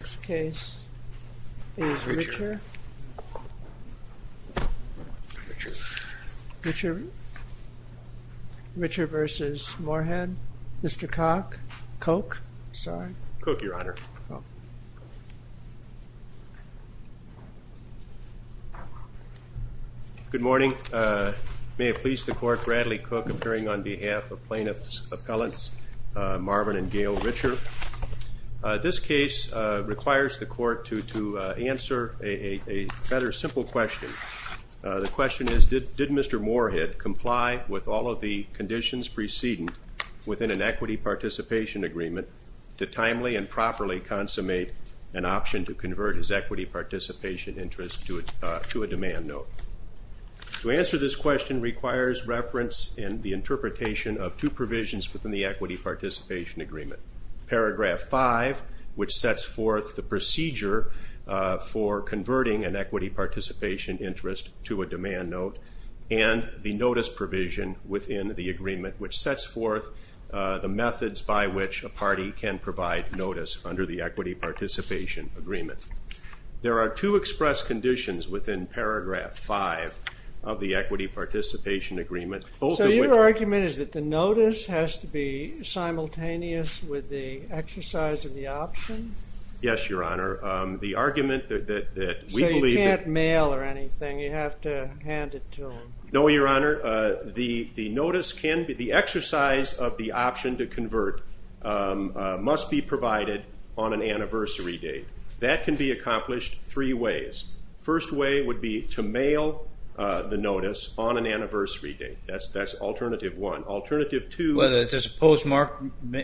This case is Richer v. Morehead. Mr. Koch? Koch, Your Honor. Good morning. May it please the court, Bradley Koch appearing on behalf of plaintiffs' appellants Marvin and Gail Richer. Mr. Richer, this case requires the court to answer a rather simple question. The question is, did Mr. Morehead comply with all of the conditions preceding within an equity participation agreement to timely and properly consummate an option to convert his equity participation interest to a demand note? To answer this question requires reference in the interpretation of two provisions within the equity participation agreement. Paragraph 5, which sets forth the procedure for converting an equity participation interest to a demand note, and the notice provision within the agreement, which sets forth the methods by which a party can provide notice under the equity participation agreement. There are two express conditions within paragraph 5 of the equity participation agreement. So your argument is that the notice has to be simultaneous with the exercise of the option? Yes, Your Honor. The argument that we believe... So you can't mail or anything. You have to hand it to him. No, Your Honor. The exercise of the option to convert must be provided on an anniversary date. That can be accomplished three ways. First way would be to mail the notice on an anniversary date. That's alternative one. Alternative two... Whether it's a postmark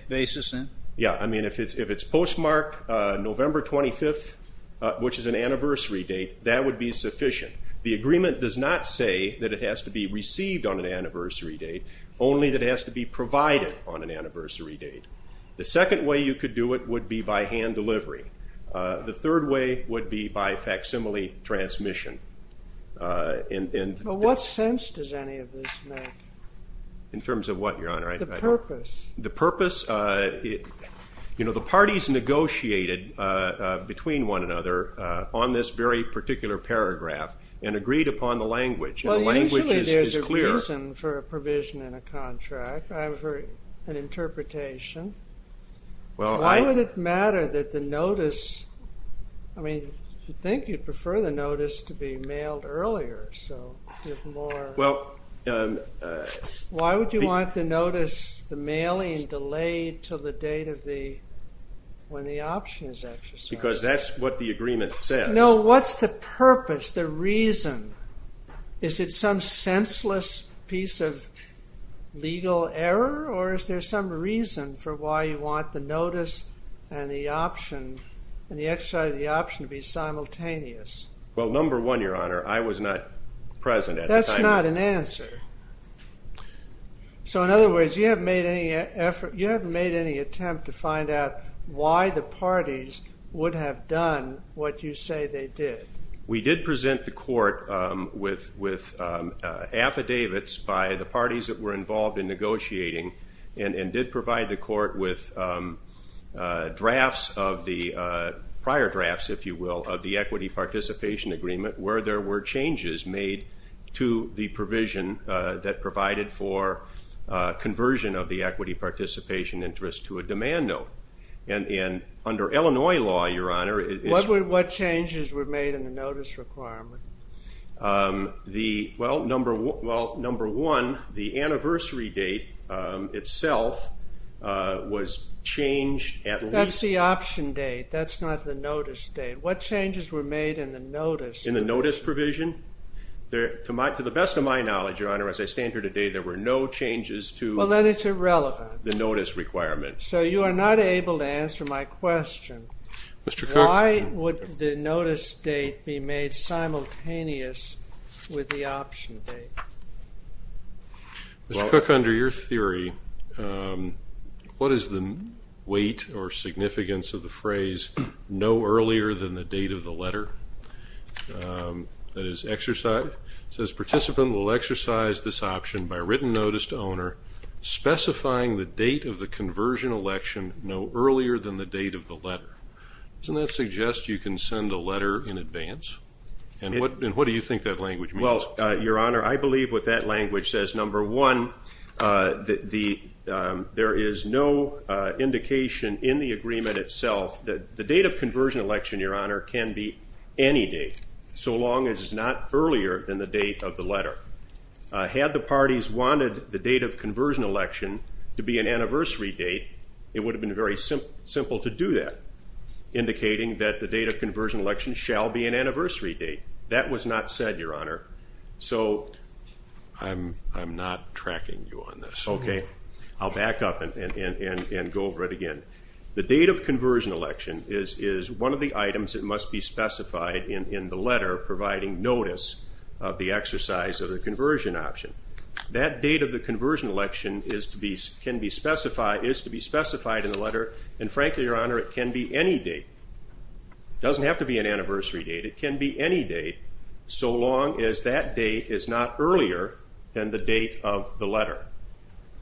basis? Yeah, I mean, if it's postmarked November 25th, which is an anniversary date, that would be sufficient. The agreement does not say that it has to be received on an anniversary date, only that it has to be provided on an anniversary date. The second way you could do it would be by hand delivery. The third way would be by facsimile transmission. What sense does any of this make? In terms of what, Your Honor? The purpose. You know, the parties negotiated between one another on this very particular paragraph and agreed upon the language. Well, usually there's a reason for a provision in a contract. I've heard an interpretation. Why would it matter that the notice... I mean, you'd think you'd prefer the notice to be mailed earlier. Well... Why would you want the notice, the mailing, delayed to the date when the option is exercised? Because that's what the agreement says. No, what's the purpose, the reason? Is it some senseless piece of legal error, or is there some reason for why you want the notice and the exercise of the option to be simultaneous? Well, number one, Your Honor, I was not present at the time. That's not an answer. So, in other words, you haven't made any effort, you haven't made any attempt to find out why the parties would have done what you say they did. We did present the court with affidavits by the parties that were involved in negotiating and did provide the court with drafts of the... prior drafts, if you will, of the equity participation agreement where there were changes made to the provision that provided for conversion of the equity participation interest to a demand note. And under Illinois law, Your Honor, it's... What changes were made in the notice requirement? Well, number one, the anniversary date itself was changed at least... That's the option date, that's not the notice date. What changes were made in the notice? In the notice provision? To the best of my knowledge, Your Honor, as I stand here today, there were no changes to... Well, then it's irrelevant. ...the notice requirement. So you are not able to answer my question. Mr. Cook... Why would the notice date be made simultaneous with the option date? Mr. Cook, under your theory, what is the weight or significance of the phrase no earlier than the date of the letter? That is, exercise. It says, participant will exercise this option by written notice to owner specifying the date of the conversion election no earlier than the date of the letter. Doesn't that suggest you can send a letter in advance? And what do you think that language means? Well, Your Honor, I believe what that language says. Number one, there is no indication in the agreement itself that the date of conversion election, Your Honor, can be any date so long as it's not earlier than the date of the letter. Had the parties wanted the date of conversion election to be an anniversary date, it would have been very simple to do that, indicating that the date of conversion election shall be an anniversary date. That was not said, Your Honor. So I'm not tracking you on this. Okay. I'll back up and go over it again. The date of conversion election is one of the items that must be specified in the letter providing notice of the exercise of the conversion option. That date of the conversion election is to be specified in the letter, and frankly, Your Honor, it can be any date. It doesn't have to be an anniversary date. It can be any date so long as that date is not earlier than the date of the letter.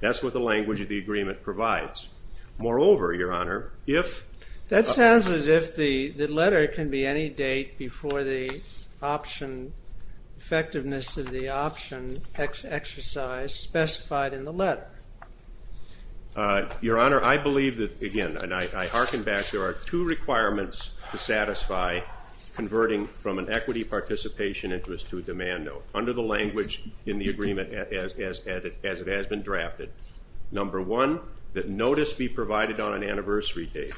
That's what the language of the agreement provides. Moreover, Your Honor, if- That sounds as if the letter can be any date before the option, effectiveness of the option exercise specified in the letter. Your Honor, I believe that, again, and I hearken back, there are two requirements to satisfy converting from an equity participation interest to a demand note under the language in the agreement as it has been drafted. Number one, that notice be provided on an anniversary date,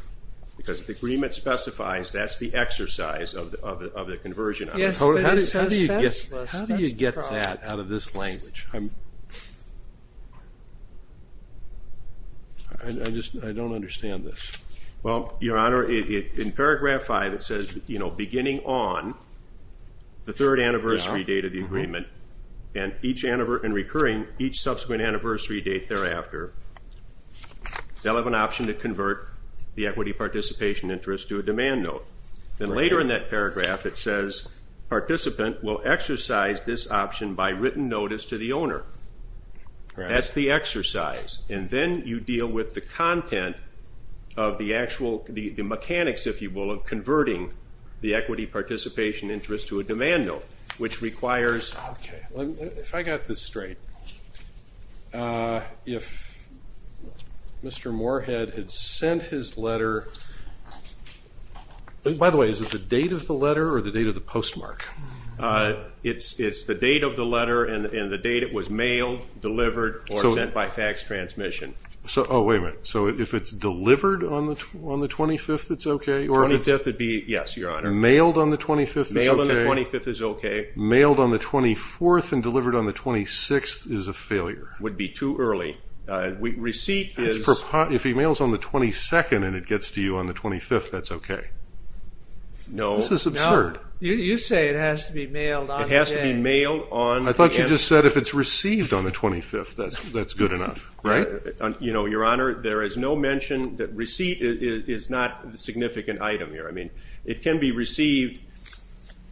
because if the agreement specifies that's the exercise of the conversion- Yes, but it's senseless. How do you get that out of this language? I just don't understand this. Well, Your Honor, in paragraph five it says, you know, beginning on the third anniversary date of the agreement, and recurring each subsequent anniversary date thereafter, they'll have an option to convert the equity participation interest to a demand note. Then later in that paragraph it says, participant will exercise this option by written notice to the owner. That's the exercise. And then you deal with the content of the actual mechanics, if you will, of converting the equity participation interest to a demand note, which requires- Okay. If I got this straight, if Mr. Moorhead had sent his letter- by the way, is it the date of the letter or the date of the postmark? It's the date of the letter and the date it was mailed, delivered, or sent by fax transmission. Oh, wait a minute. So if it's delivered on the 25th, it's okay? 25th would be, yes, Your Honor. Mailed on the 25th is okay? Mailed on the 24th and delivered on the 26th is a failure. Would be too early. Receipt is- If he mails on the 22nd and it gets to you on the 25th, that's okay. No. This is absurd. You say it has to be mailed on the day. It has to be mailed on- I thought you just said if it's received on the 25th, that's good enough. Right? Your Honor, there is no mention that receipt is not a significant item here. I mean, it can be received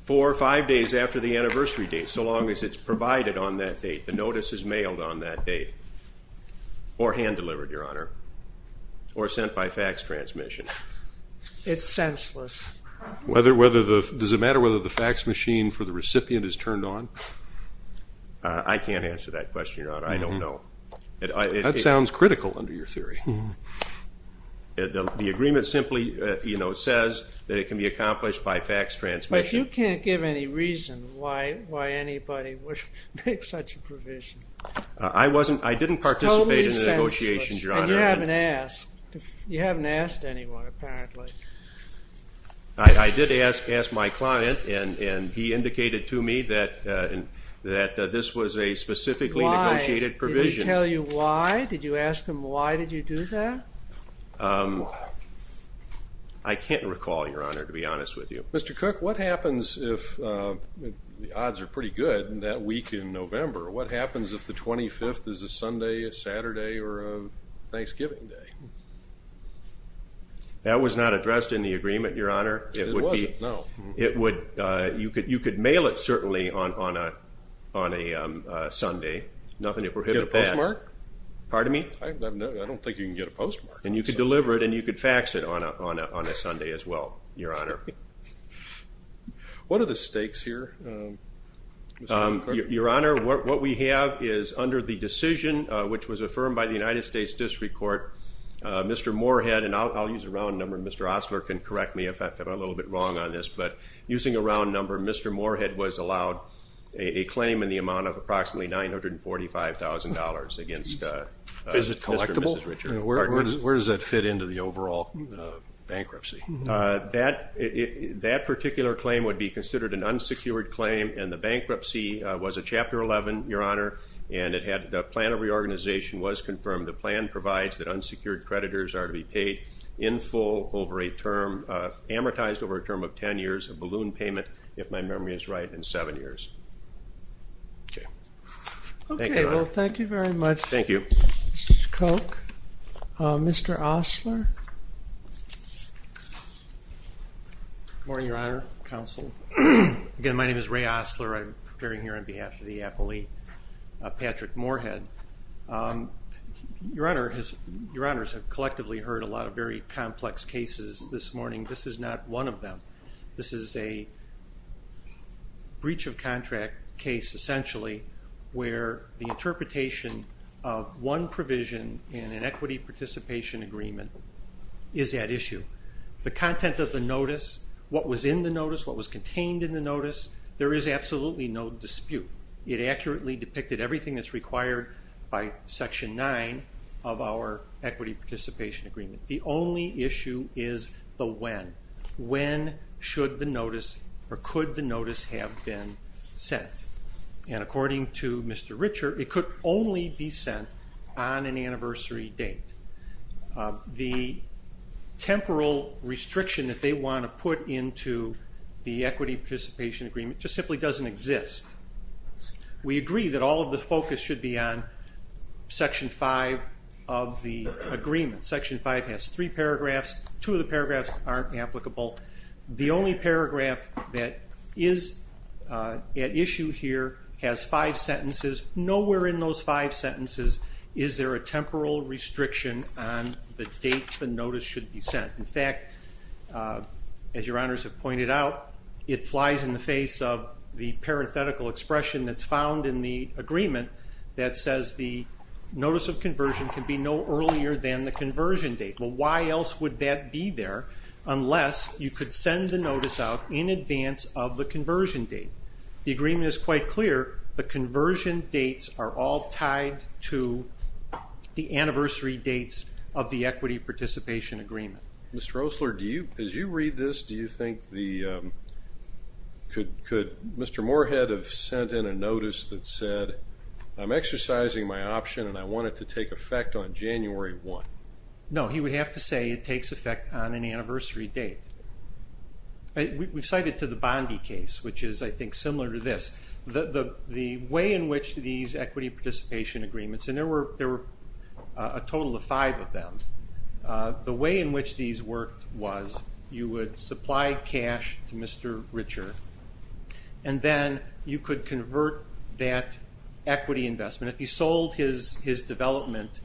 four or five days after the anniversary date, so long as it's provided on that date, the notice is mailed on that date, or hand-delivered, Your Honor, or sent by fax transmission. It's senseless. Does it matter whether the fax machine for the recipient is turned on? I can't answer that question, Your Honor. I don't know. That sounds critical under your theory. The agreement simply says that it can be accomplished by fax transmission. But you can't give any reason why anybody would make such a provision. I didn't participate in the negotiations, Your Honor. It's totally senseless, and you haven't asked. You haven't asked anyone, apparently. I did ask my client, and he indicated to me that this was a specifically negotiated provision. Why? Did he tell you why? Did you ask him why did you do that? I can't recall, Your Honor, to be honest with you. Mr. Cook, what happens if the odds are pretty good that week in November, what happens if the 25th is a Sunday, a Saturday, or a Thanksgiving day? That was not addressed in the agreement, Your Honor. It wasn't? No. You could mail it, certainly, on a Sunday. Nothing to prohibit that. Get a postmark? Pardon me? I don't think you can get a postmark. And you could deliver it, and you could fax it on a Sunday as well, Your Honor. What are the stakes here, Mr. Cook? Your Honor, what we have is under the decision, which was affirmed by the United States District Court, Mr. Moorhead, and I'll use a round number, and Mr. Osler can correct me if I'm a little bit wrong on this, but using a round number, Mr. Moorhead was allowed a claim in the amount of approximately $945,000 against Mr. and Mrs. Richard. Is it collectible? Where does that fit into the overall bankruptcy? That particular claim would be considered an unsecured claim, and the bankruptcy was a Chapter 11, Your Honor, and the plan of reorganization was confirmed. The plan provides that unsecured creditors are to be paid in full over a term, amortized over a term of ten years, a balloon payment, if my memory is right, in seven years. Okay. Thank you, Your Honor. Okay. Well, thank you very much. Thank you. Mr. Cook. Mr. Osler. Good morning, Your Honor, counsel. Again, my name is Ray Osler. I'm appearing here on behalf of the appellee, Patrick Moorhead. Your Honors have collectively heard a lot of very complex cases this morning. This is not one of them. This is a breach of contract case, essentially, where the interpretation of one provision in an equity participation agreement is at issue. The content of the notice, what was in the notice, what was contained in the notice, there is absolutely no dispute. It accurately depicted everything that's required by Section 9 of our equity participation agreement. The only issue is the when. When should the notice or could the notice have been sent? And according to Mr. Richer, it could only be sent on an anniversary date. The temporal restriction that they want to put into the equity participation agreement just simply doesn't exist. We agree that all of the focus should be on Section 5 of the agreement. Section 5 has three paragraphs. Two of the paragraphs aren't applicable. The only paragraph that is at issue here has five sentences. Nowhere in those five sentences is there a temporal restriction on the date the notice should be sent. In fact, as Your Honors have pointed out, it flies in the face of the parenthetical expression that's found in the agreement that says the notice of conversion can be no earlier than the conversion date. Well, why else would that be there unless you could send the notice out in advance of the conversion date? The agreement is quite clear. The conversion dates are all tied to the anniversary dates of the equity participation agreement. Mr. Osler, as you read this, do you think could Mr. Moorhead have sent in a notice that said, I'm exercising my option and I want it to take effect on January 1? No, he would have to say it takes effect on an anniversary date. We've cited to the Bondi case, which is, I think, similar to this. The way in which these equity participation agreements, and there were a total of five of them, the way in which these worked was you would supply cash to Mr. Richer, and then you could convert that equity investment. If he sold his development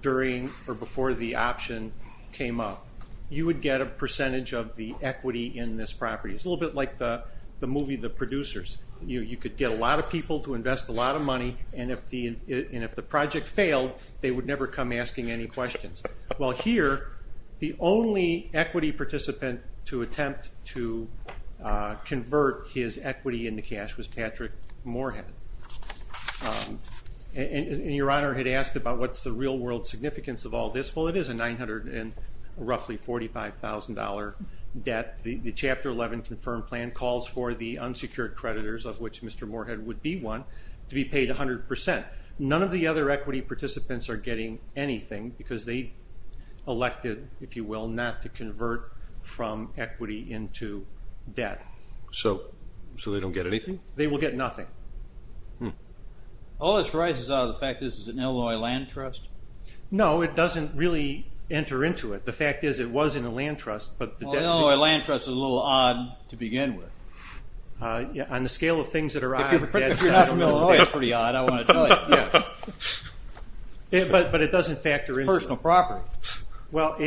during or before the option came up, you would get a percentage of the equity in this property. It's a little bit like the movie The Producers. You could get a lot of people to invest a lot of money, and if the project failed, they would never come asking any questions. Well, here, the only equity participant to attempt to convert his equity into Mr. Patrick Moorhead. And Your Honor had asked about what's the real-world significance of all this. Well, it is a roughly $45,000 debt. The Chapter 11 confirmed plan calls for the unsecured creditors, of which Mr. Moorhead would be one, to be paid 100%. None of the other equity participants are getting anything because they elected, if you will, not to convert from equity into debt. So they don't get anything? They will get nothing. All this arises out of the fact that this is an Illinois land trust? No, it doesn't really enter into it. The fact is it was in a land trust. An Illinois land trust is a little odd to begin with. On the scale of things that are odd, that's pretty odd, I want to tell you. But it doesn't factor into it. It's personal property. Well,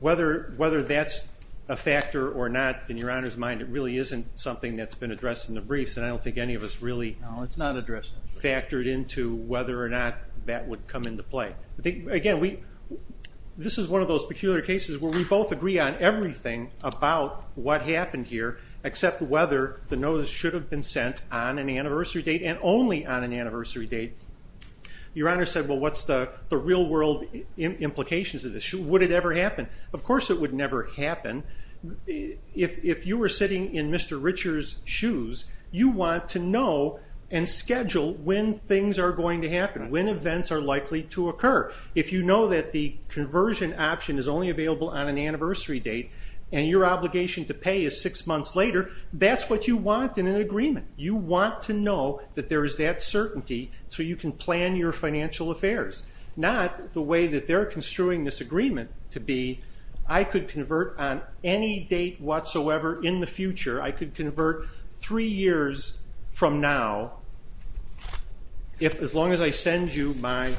whether that's a factor or not, in Your Honor's mind, it really isn't something that's been addressed in the briefs, and I don't think any of us really factored into whether or not that would come into play. Again, this is one of those peculiar cases where we both agree on everything about what happened here, except whether the notice should have been sent on an anniversary date and only on an anniversary date. Your Honor said, well, what's the real world implications of this? Would it ever happen? Of course it would never happen. If you were sitting in Mr. Richer's shoes, you want to know and schedule when things are going to happen, when events are likely to occur. If you know that the conversion option is only available on an anniversary date and your obligation to pay is six months later, that's what you want in an agreement. You want to know that there is that certainty so you can plan your financial affairs, not the way that they're construing this agreement to be, I could convert on any date whatsoever in the future. I could convert three years from now as long as I send you my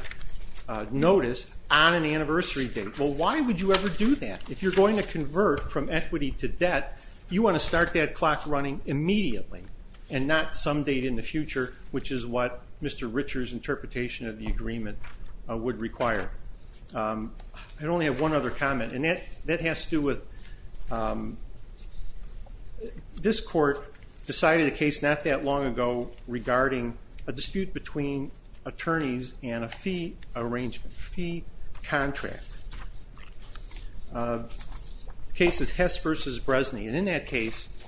notice on an anniversary date. Well, why would you ever do that? If you're going to convert from equity to debt, you want to start that clock running immediately and not some date in the future, which is what Mr. Richer's interpretation of the agreement would require. I only have one other comment, and that has to do with this court decided a case not that long ago regarding a dispute between attorneys and a fee arrangement, a fee contract. The case is Hess v. Bresney, and in that case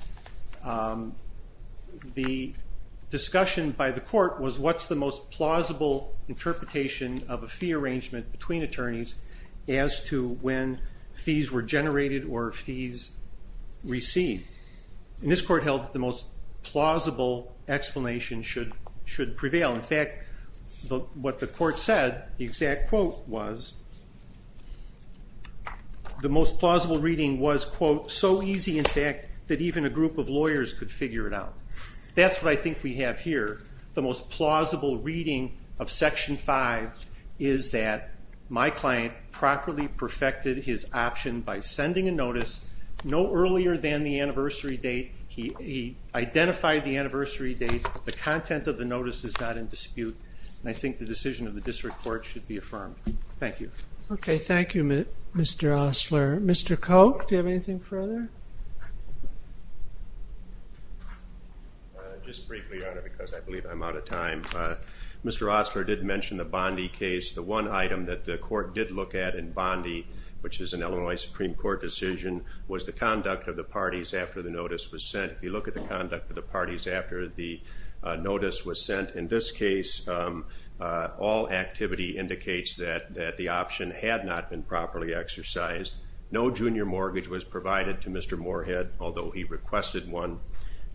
the discussion by the court was what's the most plausible interpretation of a fee arrangement between attorneys as to when fees were generated or fees received. And this court held that the most plausible explanation should prevail. In fact, what the court said, the exact quote was, the most plausible reading was, quote, so easy in fact that even a group of lawyers could figure it out. That's what I think we have here. The most plausible reading of Section 5 is that my client properly perfected his option by sending a notice no earlier than the anniversary date. He identified the anniversary date. The content of the notice is not in dispute, and I think the decision of the district court should be affirmed. Thank you. Okay, thank you, Mr. Osler. Mr. Koch, do you have anything further? Just briefly, Your Honor, because I believe I'm out of time. Mr. Osler did mention the Bondi case. The one item that the court did look at in Bondi, which is an Illinois Supreme Court decision, was the conduct of the parties after the notice was sent. If you look at the conduct of the parties after the notice was sent, in this case, all activity indicates that the option had not been properly exercised. No junior mortgage was provided to Mr. Moorhead, although he requested one.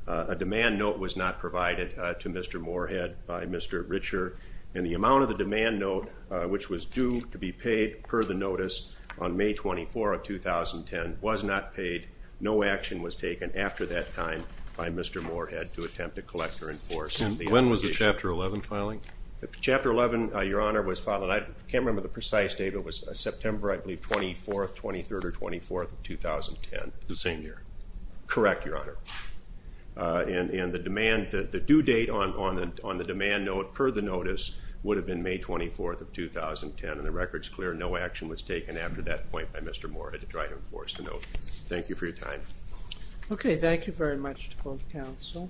A demand note was not provided to Mr. Moorhead by Mr. Richer, and the amount of the demand note, which was due to be paid per the notice on May 24 of 2010, was not paid. No action was taken after that time by Mr. Moorhead to attempt to collect or enforce the obligation. And when was the Chapter 11 filing? The Chapter 11, Your Honor, was filed. I can't remember the precise date, but it was September, I believe, 24th, 23rd or 24th of 2010. The same year. Correct, Your Honor. And the due date on the demand note per the notice would have been May 24th of 2010, and the record's clear. No action was taken after that point by Mr. Moorhead to try to enforce the obligation. Thank you for your time. Okay. Thank you very much to both counsel.